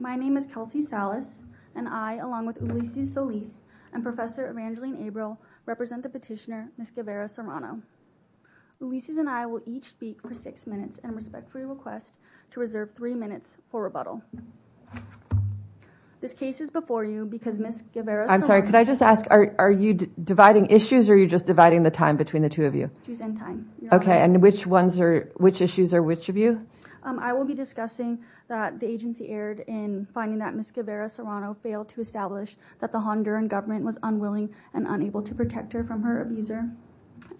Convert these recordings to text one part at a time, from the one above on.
My name is Kelsey Salas and I, along with Ulysses Solis and Professor Evangeline Abrel, represent the petitioner, Ms. Guevara-Serrano. Ulysses and I will each speak for six minutes and respectfully request to reserve three minutes for rebuttal. This case is before you because Ms. Guevara-Serrano- I'm sorry, could I just ask, are you dividing issues or are you just dividing the time between the two of you? She's in time. Okay, and which issues are which of you? I will be discussing that the agency erred in finding that Ms. Guevara-Serrano failed to establish that the Honduran government was unwilling and unable to protect her from her abuser.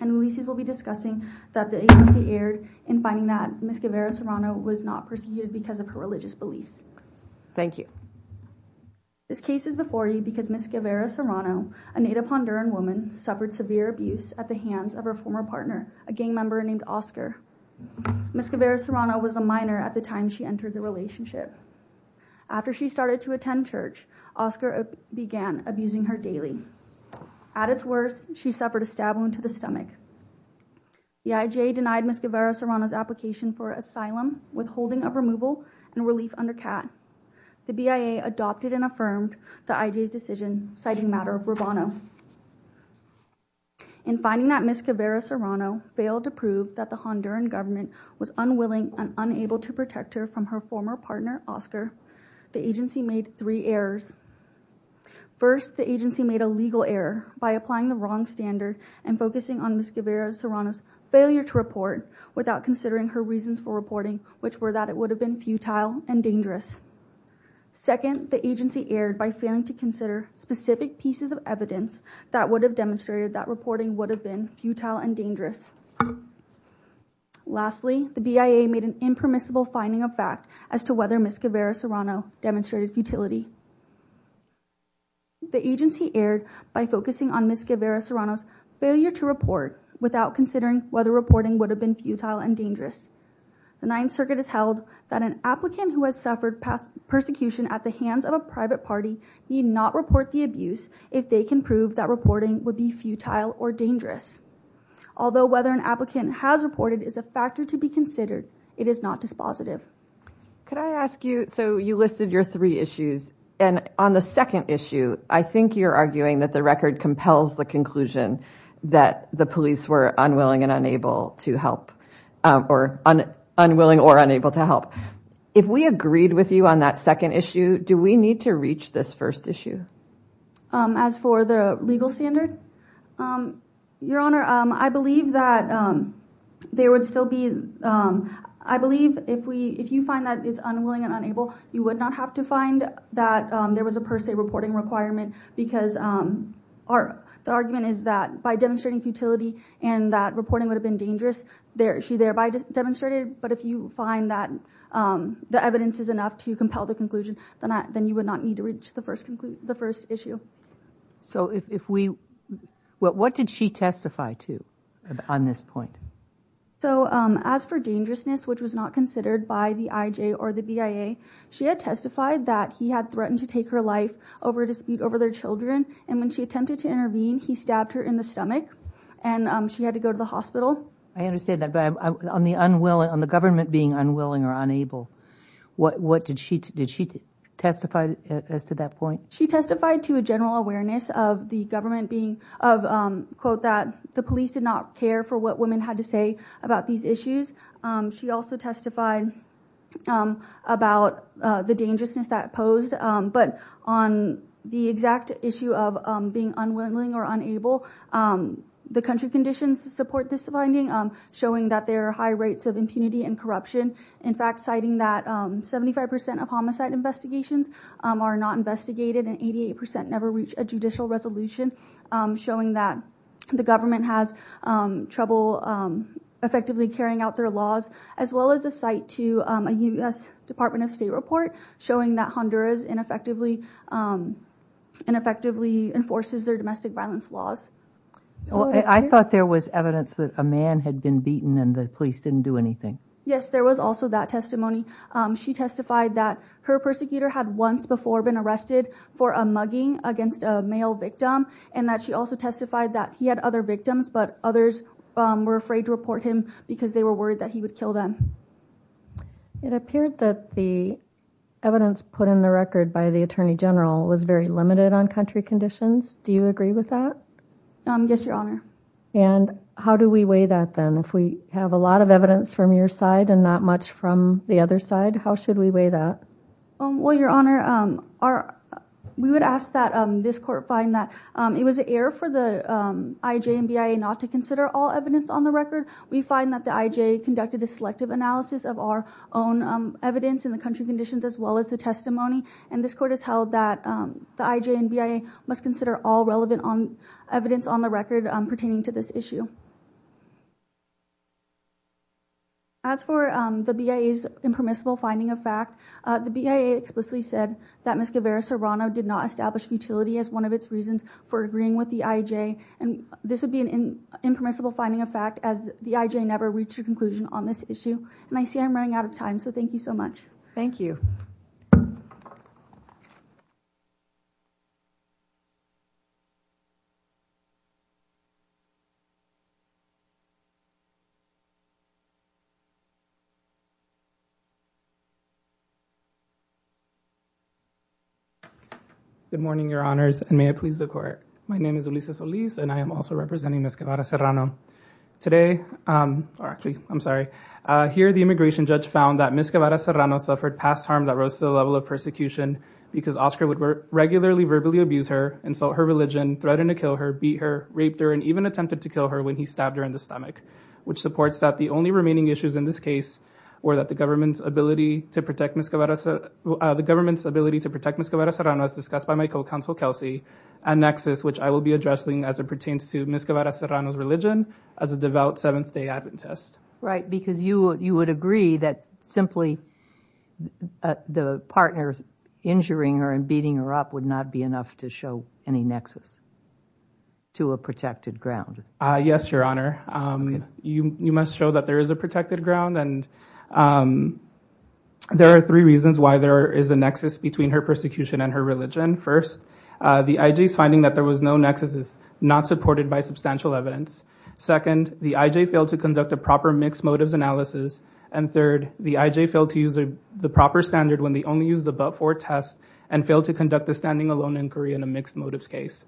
And Ulysses will be discussing that the agency erred in finding that Ms. Guevara-Serrano was not persecuted because of her religious beliefs. Thank you. This case is before you because Ms. Guevara-Serrano, a native Honduran woman, suffered severe abuse at the hands of her former partner, a gang member named Oscar. Ms. Guevara-Serrano was a minor at the time she entered the relationship. After she started to attend church, Oscar began abusing her daily. At its worst, she suffered a stab wound to the stomach. The IJ denied Ms. Guevara-Serrano's application for asylum, withholding of removal, and relief under CAT. The BIA adopted and affirmed the IJ's decision, citing matter of bravado. In finding that Ms. Guevara-Serrano failed to prove that the Honduran government was unwilling and unable to protect her from her former partner, Oscar, the agency made three errors. First, the agency made a legal error by applying the wrong standard and focusing on Ms. Guevara-Serrano's failure to report without considering her reasons for reporting, which were that it would have been futile and dangerous. Second, the agency erred by failing to consider specific pieces of evidence that would have demonstrated that reporting would have been futile and dangerous. Lastly, the BIA made an impermissible finding of fact as to whether Ms. Guevara-Serrano demonstrated futility. The agency erred by focusing on Ms. Guevara-Serrano's failure to report without considering whether reporting would have been futile and dangerous. The Ninth Circuit has held that an applicant who has suffered persecution at the hands of a private party need not report the abuse if they can prove that reporting would be futile or dangerous. Although whether an applicant has reported is a factor to be considered, it is not dispositive. Could I ask you, so you listed your three issues, and on the second issue, I think you're arguing that the record compels the conclusion that the police were unwilling and unable to help, or unwilling or unable to help. If we agreed with you on that second issue, do we need to reach this first issue? As for the legal standard, Your Honor, I believe that there would still be, I believe if you find that it's unwilling and unable, you would not have to find that there was a per se reporting requirement because the argument is that by demonstrating futility and that reporting would have been dangerous, she thereby demonstrated, but if you find that the evidence is enough to compel the conclusion, then you would not need to reach the first issue. So if we, what did she testify to on this point? So as for dangerousness, which was not considered by the IJ or the BIA, she had testified that he had threatened to take her life over a dispute over their children, and when she attempted to intervene, he stabbed her in the stomach, and she had to go to the hospital. I understand that, but on the government being unwilling or unable, what did she, did she testify as to that point? She testified to a general awareness of the government being, of, quote, that the police did not care for what women had to say about these issues. She also testified about the dangerousness that posed, but on the exact issue of being unwilling or unable, the country conditions support this finding, showing that there are high rates of impunity and corruption. In fact, citing that 75% of homicide investigations are not investigated and 88% never reach a judicial resolution, showing that the government has trouble effectively carrying out their laws, as well as a cite to a U.S. Department of State report showing that Honduras ineffectively, ineffectively enforces their domestic violence laws. I thought there was evidence that a man had been beaten and the police didn't do anything. Yes, there was also that testimony. She testified that her persecutor had once before been arrested for a mugging against a male victim, and that she also testified that he had other victims, but others were afraid to report him because they were worried that he would kill them. It appeared that the evidence put in the record by the Attorney General was very limited on country conditions. Do you agree with that? Yes, Your Honor. And how do we weigh that then? If we have a lot of evidence from your side and not much from the other side, how should we weigh that? Well, Your Honor, we would ask that this court find that it was an error for the IJMBIA not to consider all evidence on the record. We find that the IJ conducted a selective analysis of our own evidence in the country conditions as well as the testimony, and this court has held that the IJMBIA must consider all relevant evidence on the record pertaining to this issue. As for the BIA's impermissible finding of fact, the BIA explicitly said that Ms. Guevara-Serrano did not establish futility as one of its reasons for agreeing with the IJ. This would be an impermissible finding of fact as the IJ never reached a conclusion on this issue. I see I'm running out of time, so thank you so much. Thank you. Good morning, Your Honors, and may it please the Court. My name is Ulises Oliz and I am also representing Ms. Guevara-Serrano. Today, or actually, I'm sorry, here the immigration judge found that Ms. Guevara-Serrano suffered past harm that rose to the level of persecution because Oscar would regularly verbally abuse her, insult her religion, threaten to kill her, beat her, raped her, and even attempted to kill her when he stabbed her in the stomach, which supports that the only remaining issues in this case were that the government's ability to protect Ms. Guevara-Serrano as discussed by my co-counsel, Kelsey, a nexus which I will be addressing as it pertains to Ms. Guevara-Serrano's religion as a devout Seventh-day Adventist. Right, because you would agree that simply the partner's injuring her and beating her up would not be enough to show any nexus to a protected ground. Yes, Your Honor. You must show that there is a protected ground, and there are three reasons why there is a First, the I.J.'s finding that there was no nexus is not supported by substantial evidence. Second, the I.J. failed to conduct a proper mixed motives analysis. And third, the I.J. failed to use the proper standard when they only used the but-for test and failed to conduct the standing alone inquiry in a mixed motives case.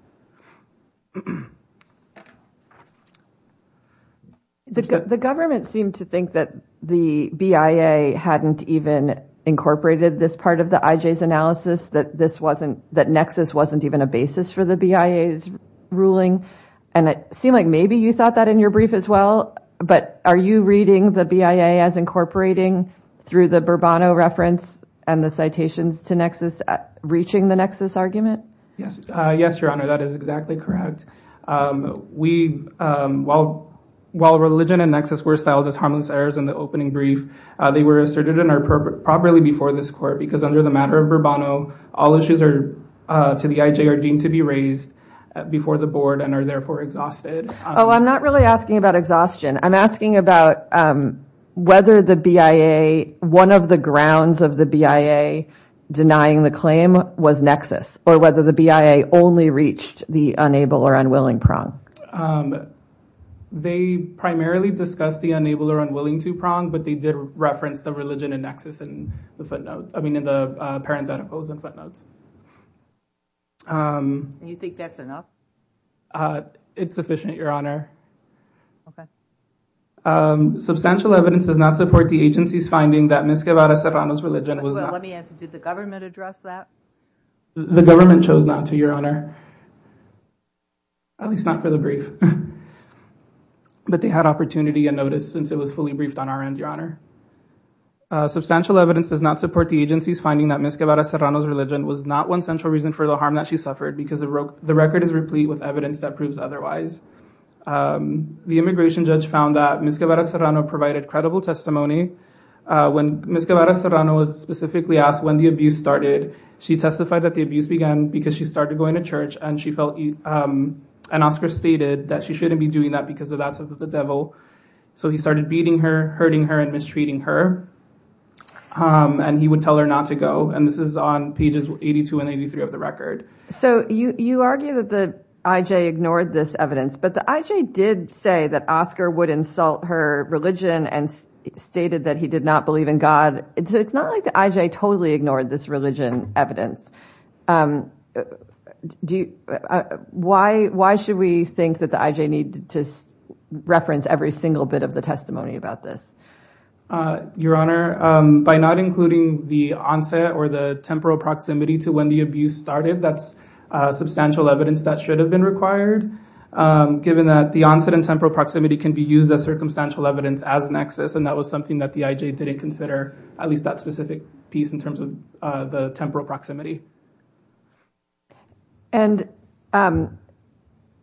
The government seemed to think that the BIA hadn't even incorporated this part of the I.J.'s analysis, that nexus wasn't even a basis for the BIA's ruling. And it seemed like maybe you thought that in your brief as well. But are you reading the BIA as incorporating through the Bourbano reference and the citations to nexus, reaching the nexus argument? Yes, Your Honor, that is exactly correct. While religion and nexus were styled as harmless errors in the opening brief, they were asserted and are properly before this court because under the matter of Bourbano, all issues are to the I.J. are deemed to be raised before the board and are therefore exhausted. Oh, I'm not really asking about exhaustion. I'm asking about whether the BIA, one of the grounds of the BIA denying the claim was nexus or whether the BIA only reached the unable or unwilling prong. They primarily discussed the unable or unwilling to prong, but they did reference the religion and nexus in the footnote, I mean, in the parentheticals and footnotes. You think that's enough? It's sufficient, Your Honor. Substantial evidence does not support the agency's finding that Ms. Guevara Serrano's religion was not. Let me ask, did the government address that? The government chose not to, Your Honor, at least not for the brief, but they had opportunity and notice since it was fully briefed on our end, Your Honor. Substantial evidence does not support the agency's finding that Ms. Guevara Serrano's religion was not one central reason for the harm that she suffered because the record is replete with evidence that proves otherwise. The immigration judge found that Ms. Guevara Serrano provided credible testimony. When Ms. Guevara Serrano was specifically asked when the abuse started, she testified that the abuse began because she started going to church and she felt, and Oscar stated that she shouldn't be doing that because of the devil. So he started beating her, hurting her, and mistreating her, and he would tell her not to go. And this is on pages 82 and 83 of the record. So you argue that the IJ ignored this evidence, but the IJ did say that Oscar would insult her religion and stated that he did not believe in God. It's not like the IJ totally ignored this religion evidence. Why should we think that the IJ need to reference every single bit of the testimony about this? Your Honor, by not including the onset or the temporal proximity to when the abuse started, that's substantial evidence that should have been required, given that the onset and temporal proximity can be used as circumstantial evidence as an axis, and that was something that the IJ didn't consider, at least that specific piece in terms of the temporal proximity. And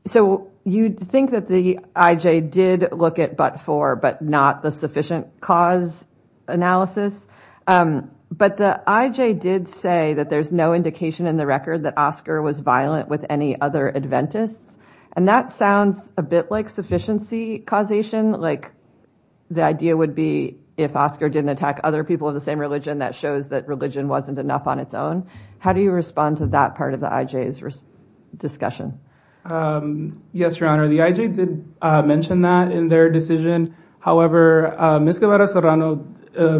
so you'd think that the IJ did look at but for, but not the sufficient cause analysis, but the IJ did say that there's no indication in the record that Oscar was violent with any other Adventists, and that sounds a bit like sufficiency causation, like the idea would be if Oscar didn't attack other people of the same religion, that shows that religion wasn't enough on its own. How do you respond to that part of the IJ's discussion? Yes, Your Honor, the IJ did mention that in their decision. However, Ms. Guevara Serrano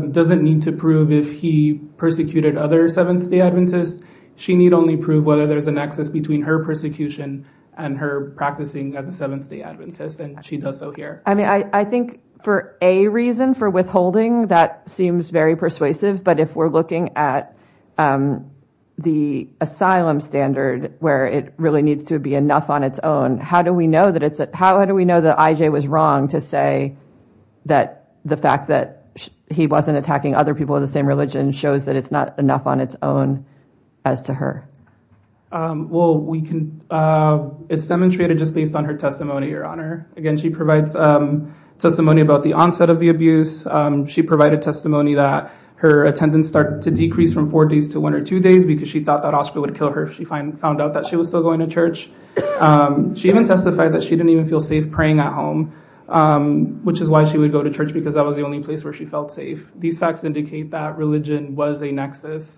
doesn't need to prove if he persecuted other Seventh-day Adventists. She need only prove whether there's a nexus between her persecution and her practicing as a Seventh-day Adventist, and she does so here. I mean, I think for a reason, for withholding, that seems very persuasive. But if we're looking at the asylum standard where it really needs to be enough on its own, how do we know that it's, how do we know that IJ was wrong to say that the fact that he wasn't attacking other people of the same religion shows that it's not enough on its own as to her? Well, we can, it's demonstrated just based on her testimony, Your Honor. Again, she provides testimony about the onset of the abuse. She provided testimony that her attendance started to decrease from four days to one or two days because she thought that Oscar would kill her if she found out that she was still going to church. She even testified that she didn't even feel safe praying at home, which is why she would go to church because that was the only place where she felt safe. These facts indicate that religion was a nexus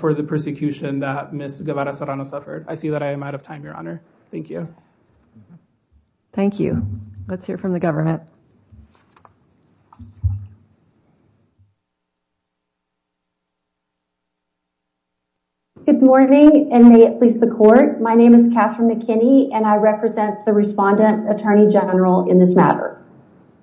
for the persecution that Ms. Guevara Serrano suffered. I see that I am out of time, Your Honor. Thank you. Thank you. Let's hear from the government. Good morning, and may it please the Court. My name is Catherine McKinney, and I represent the Respondent Attorney General in this matter.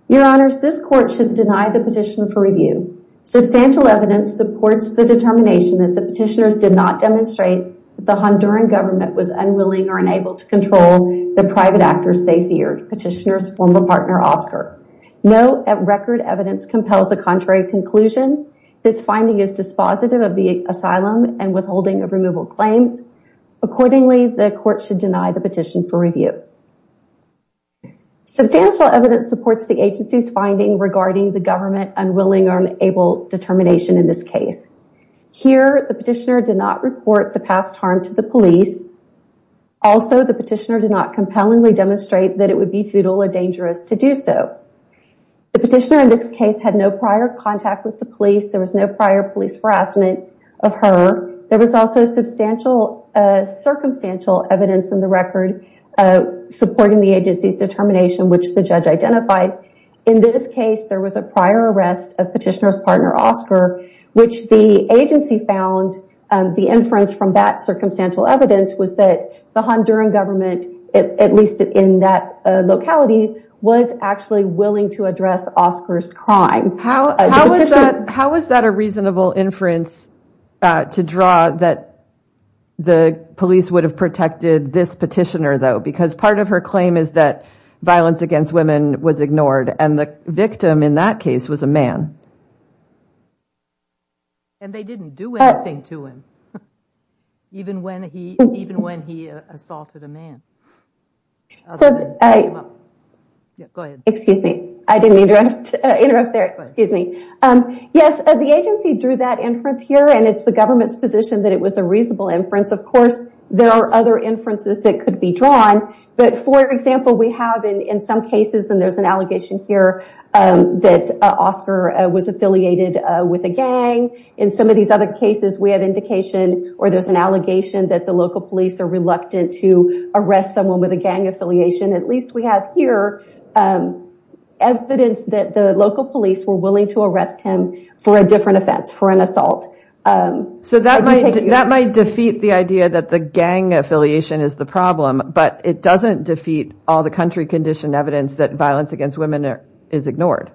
Your Honors, this Court should deny the petition for review. Substantial evidence supports the determination that the petitioners did not demonstrate that the Honduran government was unwilling or unable to control the private actors they feared, petitioners' former partner Oscar. No record evidence compels a contrary conclusion. This finding is dispositive of the asylum and withholding of removal claims. Accordingly, the Court should deny the petition for review. Substantial evidence supports the agency's finding regarding the government's unwilling or unable determination in this case. Here, the petitioner did not report the past harm to the police. Also, the petitioner did not compellingly demonstrate that it would be futile or dangerous to do so. The petitioner in this case had no prior contact with the police. There was no prior police harassment of her. There was also circumstantial evidence in the record supporting the agency's determination, which the judge identified. In this case, there was a prior arrest of petitioner's partner Oscar, which the agency found the inference from that circumstantial evidence was that the Honduran government, at least in that locality, was actually willing to address Oscar's crimes. How is that a reasonable inference to draw that the police would have protected this petitioner, though? Because part of her claim is that violence against women was ignored, and the victim in that case was a man. And they didn't do anything to him, even when he assaulted a man. Excuse me. I didn't mean to interrupt there. Excuse me. Yes, the agency drew that inference here, and it's the government's position that it was a reasonable inference. Of course, there are other inferences that could be drawn. But, for example, we have in some cases, and there's an allegation here that Oscar was affiliated with a gang. In some of these other cases, we have indication or there's an allegation that the local police are reluctant to arrest someone with a gang affiliation. At least we have here evidence that the local police were willing to arrest him for a different offense, for an assault. So that might defeat the idea that the gang affiliation is the problem, but it doesn't defeat all the country-conditioned evidence that violence against women is ignored.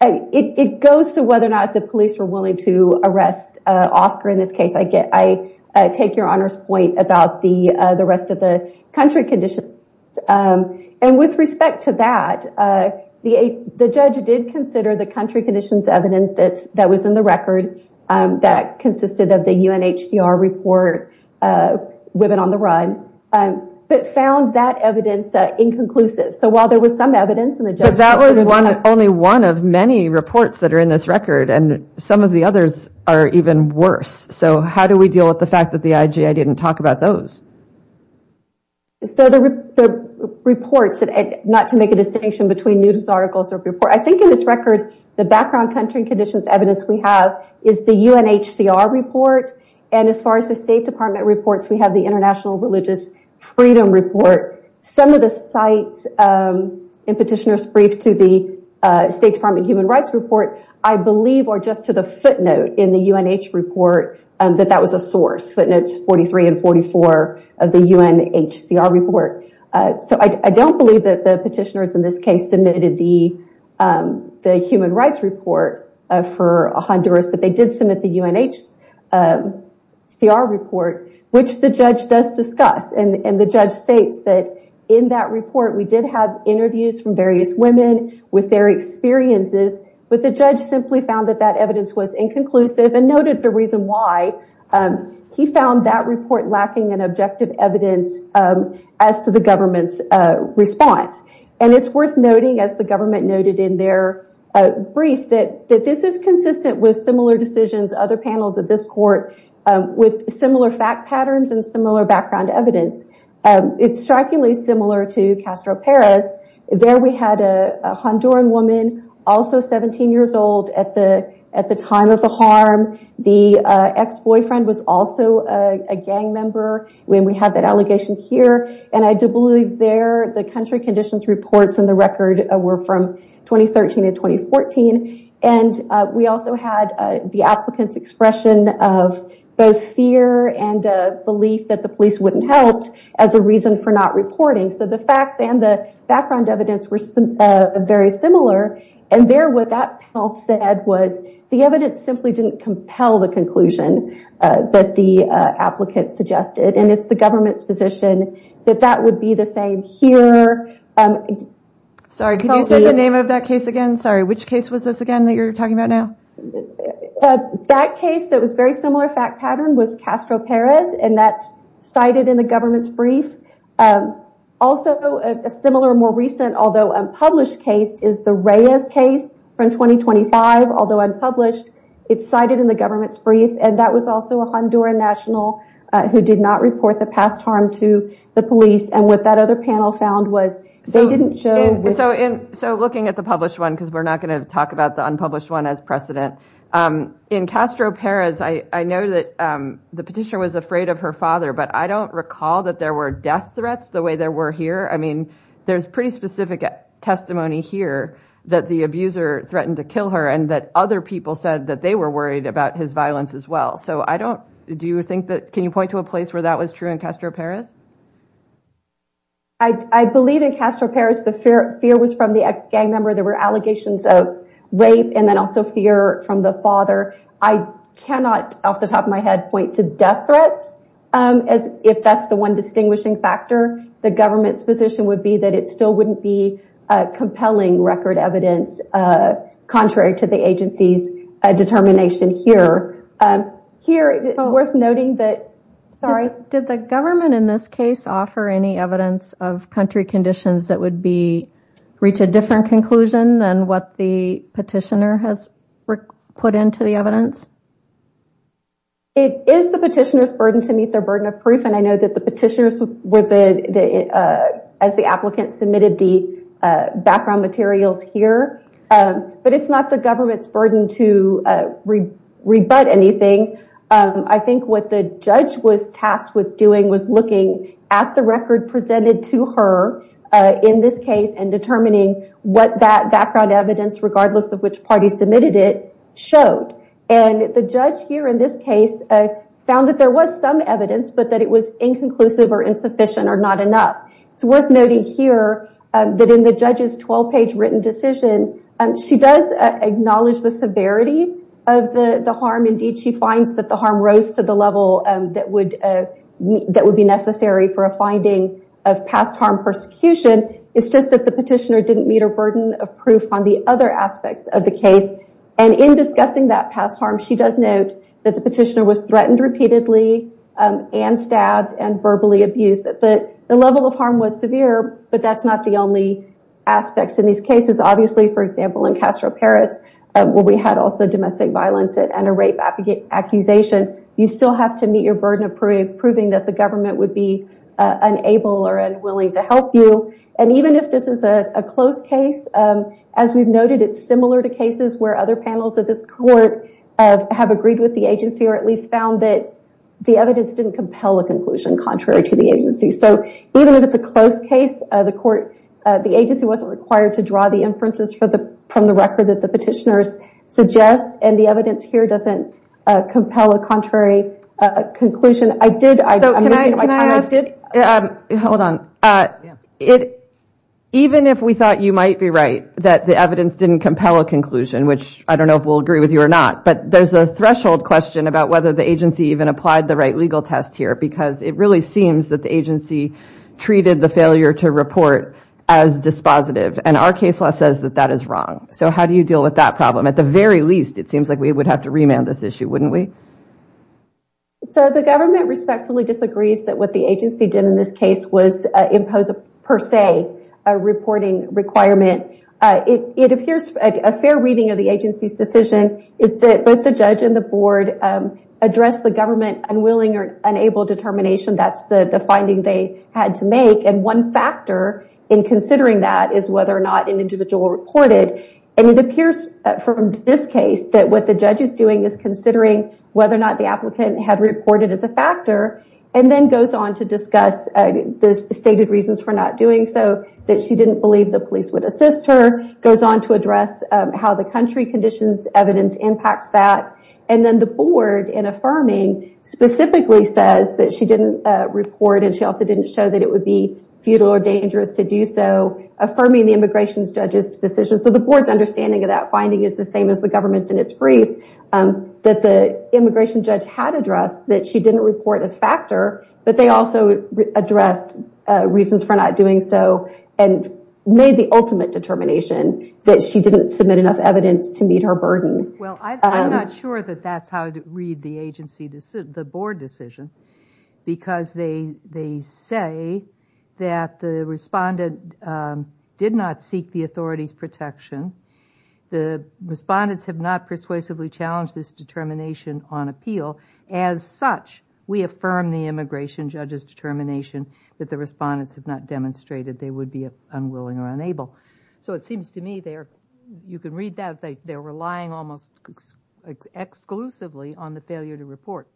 It goes to whether or not the police were willing to arrest Oscar in this case. I take your Honor's point about the rest of the country conditions. And with respect to that, the judge did consider the country conditions evidence that was in the record that consisted of the UNHCR report, Women on the Run, but found that evidence inconclusive. So while there was some evidence in the judgment... But that was only one of many reports that are in this record, and some of the others are even worse. So how do we deal with the fact that the IGA didn't talk about those? So the reports, not to make a distinction between news articles or reports, I think in this record, the background country conditions evidence we have is the UNHCR report. And as far as the State Department reports, we have the International Religious Freedom Report. Some of the sites in Petitioner's Brief to the State Department Human Rights Report, I believe, or just to the footnote in the UNH report, that that was a source. Footnotes 43 and 44 of the UNHCR report. So I don't believe that the petitioners in this case submitted the Human Rights Report for Honduras, but they did submit the UNHCR report, which the judge does discuss. And the judge states that in that report, we did have interviews from various women with their experiences, but the judge simply found that that evidence was inconclusive, and noted the reason why. He found that report lacking in objective evidence as to the government's response. And it's worth noting, as the government noted in their brief, that this is consistent with similar decisions, other panels of this court, with similar fact patterns and similar background evidence. It's strikingly similar to Castro Perez. There we had a Honduran woman, also 17 years old, at the time of the harm. The ex-boyfriend was also a gang member when we had that allegation here. And I do believe there, the country conditions reports in the record were from 2013 to 2014. And we also had the applicant's expression of both fear and belief that the police wouldn't help as a reason for not reporting. So the facts and the background evidence were very similar. And there, what that panel said was the evidence simply didn't compel the conclusion that the applicant suggested. And it's the government's position that that would be the same here. Sorry, could you say the name of that case again? Sorry, which case was this again that you're talking about now? That case that was very similar fact pattern was Castro Perez. And that's cited in the government's brief. Also, a similar, more recent, although unpublished case is the Reyes case from 2025, although unpublished, it's cited in the government's brief. And that was also a Honduran national who did not report the past harm to the police. And what that other panel found was they didn't show- So looking at the published one, because we're not going to talk about the unpublished one as precedent, in Castro Perez, I know that the petitioner was afraid of her father, but I don't recall that there were death threats the way there were here. I mean, there's pretty specific testimony here that the abuser threatened to kill her and that other people said that they were worried about his violence as well. So I don't, do you think that, can you point to a place where that was true in Castro Perez? I believe in Castro Perez the fear was from the ex-gang member. There were allegations of rape and then also fear from the father. I cannot, off the top of my head, point to death threats as if that's the one distinguishing factor. The government's position would be that it still wouldn't be compelling record evidence contrary to the agency's determination here. Here, it's worth noting that- Sorry. Did the government in this case offer any evidence of country conditions that would be, reach a different conclusion than what the petitioner has put into the evidence? It is the petitioner's burden to meet their burden of proof, and I know that the petitioners, as the applicant submitted the background materials here, but it's not the government's burden to rebut anything. I think what the judge was tasked with doing was looking at the record presented to her in this case and determining what that background evidence, regardless of which party submitted it, showed. And the judge here in this case found that there was some evidence, but that it was inconclusive or insufficient or not enough. It's worth noting here that in the judge's 12-page written decision, she does acknowledge the severity of the harm. Indeed, she finds that the harm rose to the level that would be necessary for a finding of past harm persecution. It's just that the petitioner didn't meet her burden of proof on the other aspects of the case. And in discussing that past harm, she does note that the petitioner was threatened repeatedly and stabbed and verbally abused. The level of harm was severe, but that's not the only aspects in these cases. Obviously, for example, in Castro Perez, where we had also domestic violence and a rape accusation, you still have to meet your burden of proving that the government would be unable or unwilling to help you. And even if this is a close case, as we've noted, it's similar to cases where other panels of this court have agreed with the agency or at least found that the evidence didn't compel a conclusion contrary to the agency. So even if it's a close case, the agency wasn't required to draw the inferences from the record that the petitioners suggest, and the evidence here doesn't compel a contrary conclusion. I did... So can I ask... Hold on. Even if we thought you might be right, that the evidence didn't compel a conclusion, which I don't know if we'll agree with you or not, but there's a threshold question about whether the agency even applied the right legal test here because it really seems that the agency treated the failure to report as dispositive, and our case law says that that is wrong. So how do you deal with that problem? At the very least, it seems like we would have to remand this issue, wouldn't we? So the government respectfully disagrees that what the agency did in this case was impose, per se, a reporting requirement. It appears a fair reading of the agency's decision is that both the judge and the board addressed the government unwilling or unable determination. That's the finding they had to make. And one factor in considering that is whether or not an individual reported. And it appears from this case that what the judge is doing is considering whether or not the applicant had reported as a factor and then goes on to discuss the stated reasons for not doing so, that she didn't believe the police would assist her, goes on to address how the country conditions evidence impacts that, and then the board, in affirming, specifically says that she didn't report and she also didn't show that it would be futile or dangerous to do so, affirming the immigration judge's decision. So the board's understanding of that finding is the same as the government's in its brief, that the immigration judge had addressed that she didn't report as factor, but they also addressed reasons for not doing so and made the ultimate determination that she didn't submit enough evidence to meet her burden. Well, I'm not sure that that's how to read the agency, the board decision, because they say that the respondent did not seek the authority's protection. The respondents have not persuasively challenged this determination on appeal. As such, we affirm the immigration judge's determination that the respondents have not demonstrated they would be unwilling or unable. So it seems to me they are, you can read that, they're relying almost exclusively on the failure to report,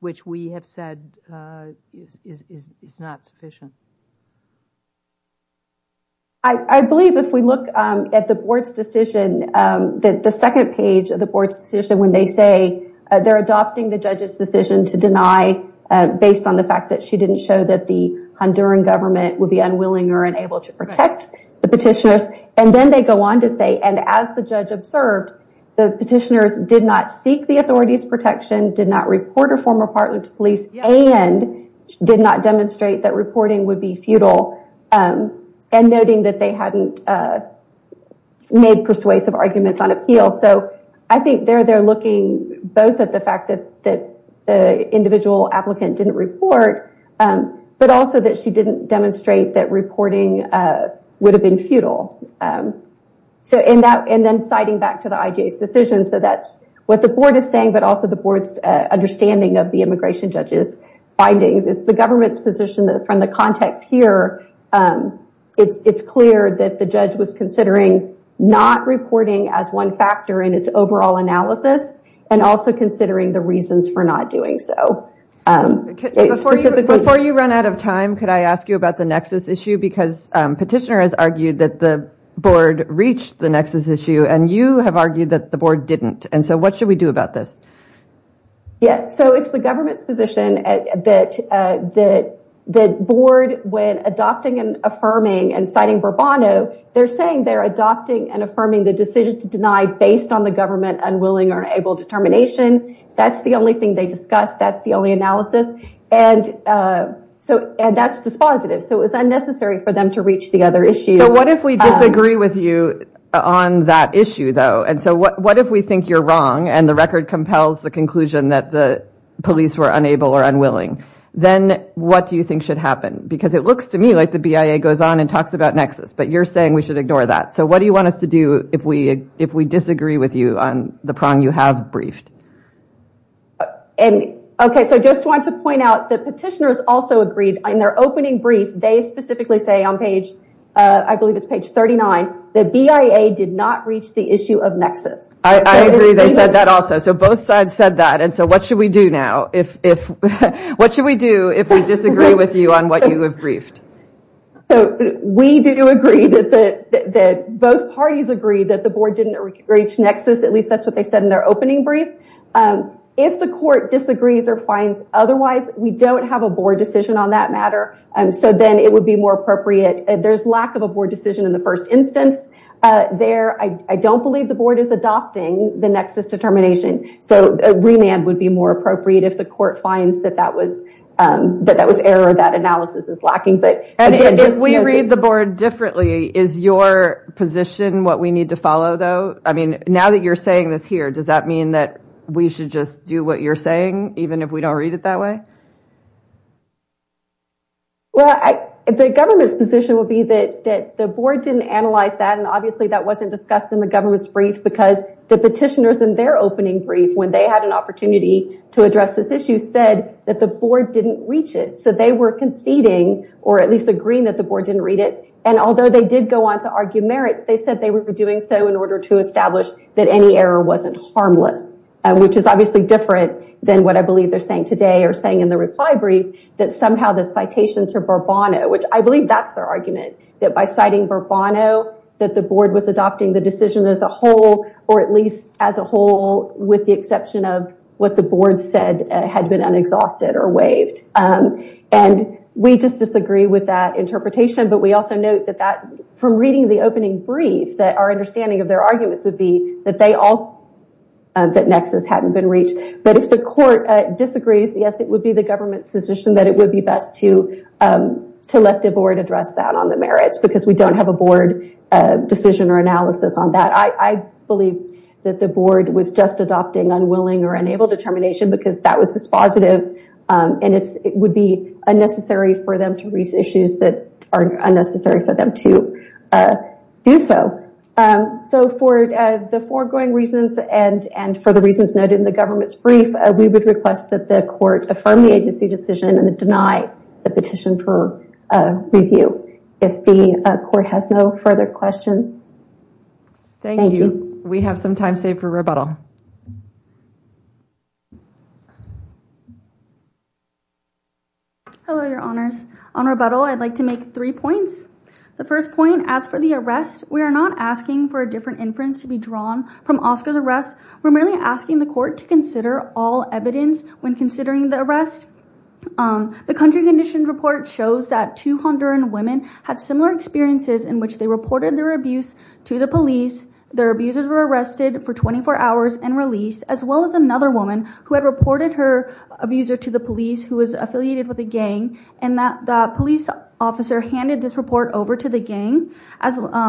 which we have said is not sufficient. I believe if we look at the board's decision, the second page of the board's decision when they say they're adopting the judge's decision to deny based on the fact that she didn't show that the Honduran government would be unwilling or unable to protect the petitioners. And then they go on to say, and as the judge observed, the petitioners did not seek the authority's protection, did not report a former partner to police, and did not demonstrate that reporting would be futile and noting that they hadn't made persuasive arguments on appeal. So I think they're there looking both at the fact that the individual applicant didn't report, but also that she didn't demonstrate that reporting would have been futile. So in that, and then citing back to the IJ's decision, so that's what the board is saying, but also the board's understanding of the immigration judge's findings. It's the government's position that from the context here, it's clear that the judge was considering not reporting as one factor in its overall analysis and also considering the reasons for not doing so. Before you run out of time, could I ask you about the nexus issue? Because petitioner has argued that the board reached the nexus issue and you have argued that the board didn't. And so what should we do about this? Yeah, so it's the government's position that the board, when adopting and affirming and citing Burbano, they're saying they're adopting and affirming the decision to deny based on the government unwilling or unable determination. That's the only thing they discuss. That's the only analysis. And that's dispositive. So it was unnecessary for them to reach the other issues. But what if we disagree with you on that issue, though? And so what if we think you're wrong and the record compels the conclusion that the police were unable or unwilling? Then what do you think should happen? Because it looks to me like the BIA goes on and talks about nexus, but you're saying we should ignore that. So what do you want us to do if we disagree with you on the problem you have briefed? Okay, so I just want to point out that petitioners also agreed in their opening brief they specifically say on page, I believe it's page 39, that BIA did not reach the issue of nexus. I agree they said that also. So both sides said that. And so what should we do now? What should we do if we disagree with you on what you have briefed? We do agree that both parties agree that the board didn't reach nexus, at least that's what they said in their opening brief. If the court disagrees or finds otherwise, we don't have a board decision on that matter. So then it would be more appropriate. There's lack of a board decision in the first instance there. I don't believe the board is adopting the nexus determination. So a remand would be more appropriate if the court finds that that was error, that analysis is lacking. And if we read the board differently, is your position what we need to follow, though? I mean, now that you're saying this here, does that mean that we should just do what you're saying, even if we don't read it that way? Well, the government's position would be that the board didn't analyze that, and obviously that wasn't discussed in the government's brief, because the petitioners in their opening brief, when they had an opportunity to address this issue, said that the board didn't reach it. So they were conceding, or at least agreeing, that the board didn't read it. And although they did go on to argue merits, they said they were doing so in order to establish that any error wasn't harmless, which is obviously different than what I believe they're saying today or saying in the reply brief, that somehow the citation to Bourbon, which I believe that's their argument, that by citing Bourbon, that the board was adopting the decision as a whole, or at least as a whole with the exception of what the board said had been unexhausted or waived. And we just disagree with that interpretation. But we also note that that, from reading the opening brief, that our understanding of their arguments would be that they all, that nexus hadn't been reached. But if the court disagrees, yes, it would be the government's position that it would be best to let the board address that on the merits, because we don't have a board decision or analysis on that. I believe that the board was just adopting unwilling or unable determination because that was dispositive, and it would be unnecessary for them to raise issues that are unnecessary for them to do so. So for the foregoing reasons and for the reasons noted in the government's we would request that the court affirm the agency decision and deny the petition for review. If the court has no further questions. Thank you. We have some time saved for rebuttal. Hello, Your Honors. On rebuttal, I'd like to make three points. The first point, as for the arrest, we are not asking for a different inference to be drawn from Oscar's We're merely asking the court to consider all evidence when considering the arrest. The country condition report shows that two Honduran women had similar experiences in which they reported their abuse to the police. Their abusers were arrested for 24 hours and released, as well as another woman who had reported her abuser to the police who was affiliated with a gang and that the police officer handed this report over to the gang,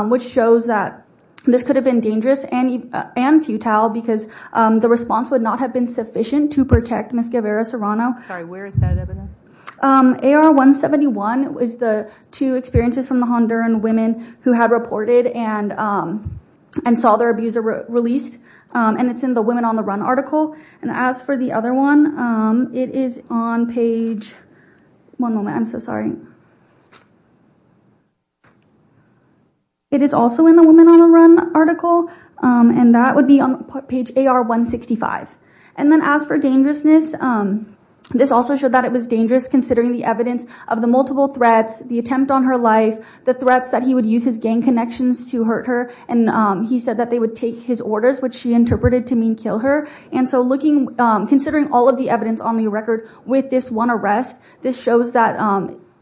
which shows that this could have been dangerous and futile because the response would not have been sufficient to protect Ms. Guevara Serrano. Sorry, where is that evidence? AR-171 is the two experiences from the Honduran women who had reported and saw their abuser released. And it's in the Women on the Run article. And as for the other one, it is on page, one moment, I'm so sorry. It is also in the Women on the Run article. And that would be on page AR-165. And then as for dangerousness, this also showed that it was dangerous considering the evidence of the multiple threats, the attempt on her life, the threats that he would use his gang connections to hurt her. And he said that they would take his orders, which she interpreted to mean kill her. And so looking, considering all of the evidence on the record with this one arrest, this shows that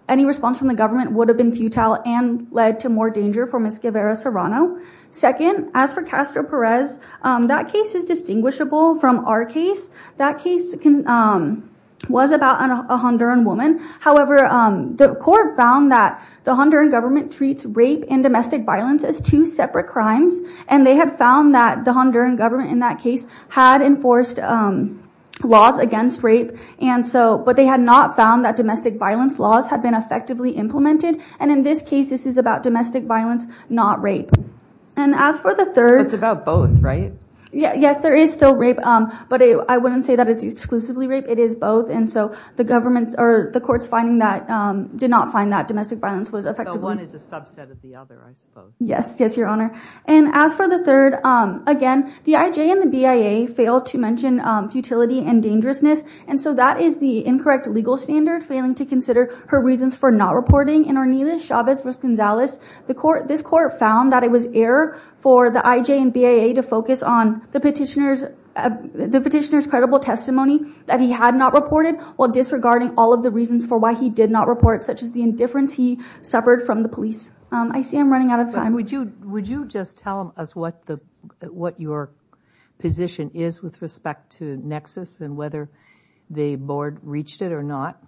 any response from the government would have been futile and led to more danger for Ms. Guevara Serrano. Second, as for Castro Perez, that case is distinguishable from our case. That case was about a Honduran woman. However, the court found that the Honduran government treats rape and domestic violence as two separate crimes. And they had found that the Honduran government in that case had enforced laws against rape. And so, but they had not found that domestic violence laws had been effectively implemented. And in this case, this is about domestic violence, not rape. And as for the third. It's about both, right? Yes, there is still rape. But I wouldn't say that it's exclusively rape. It is both. And so the government's or the court's finding that did not find that domestic violence was effective. But one is a subset of the other, I suppose. Yes. Yes, Your Honor. And as for the third, again, the IJ and the BIA failed to mention futility and dangerousness. And so that is the incorrect legal standard, failing to consider her reasons for not reporting. In Orniles Chavez vs. Gonzales, this court found that it was error for the IJ and BIA to focus on the petitioner's credible testimony that he had not reported, while disregarding all of the reasons for why he did not report, such as the indifference he suffered from the police. I see I'm running out of time. Would you just tell us what your position is with respect to Nexus and whether the board reached it or not?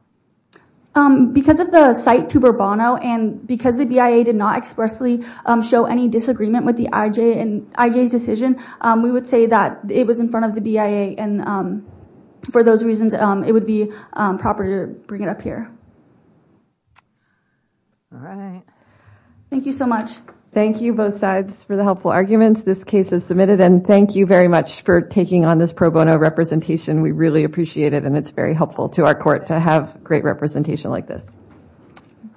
Because of the cite to Bourbono and because the BIA did not expressly show any disagreement with the IJ's decision, we would say that it was in front of the BIA. And for those reasons, it would be proper to bring it up here. All right. Thank you so much. Thank you, both sides, for the helpful arguments. This case is submitted, and thank you very much for taking on this pro bono representation. We really appreciate it, and it's very helpful to our court to have great representation like this.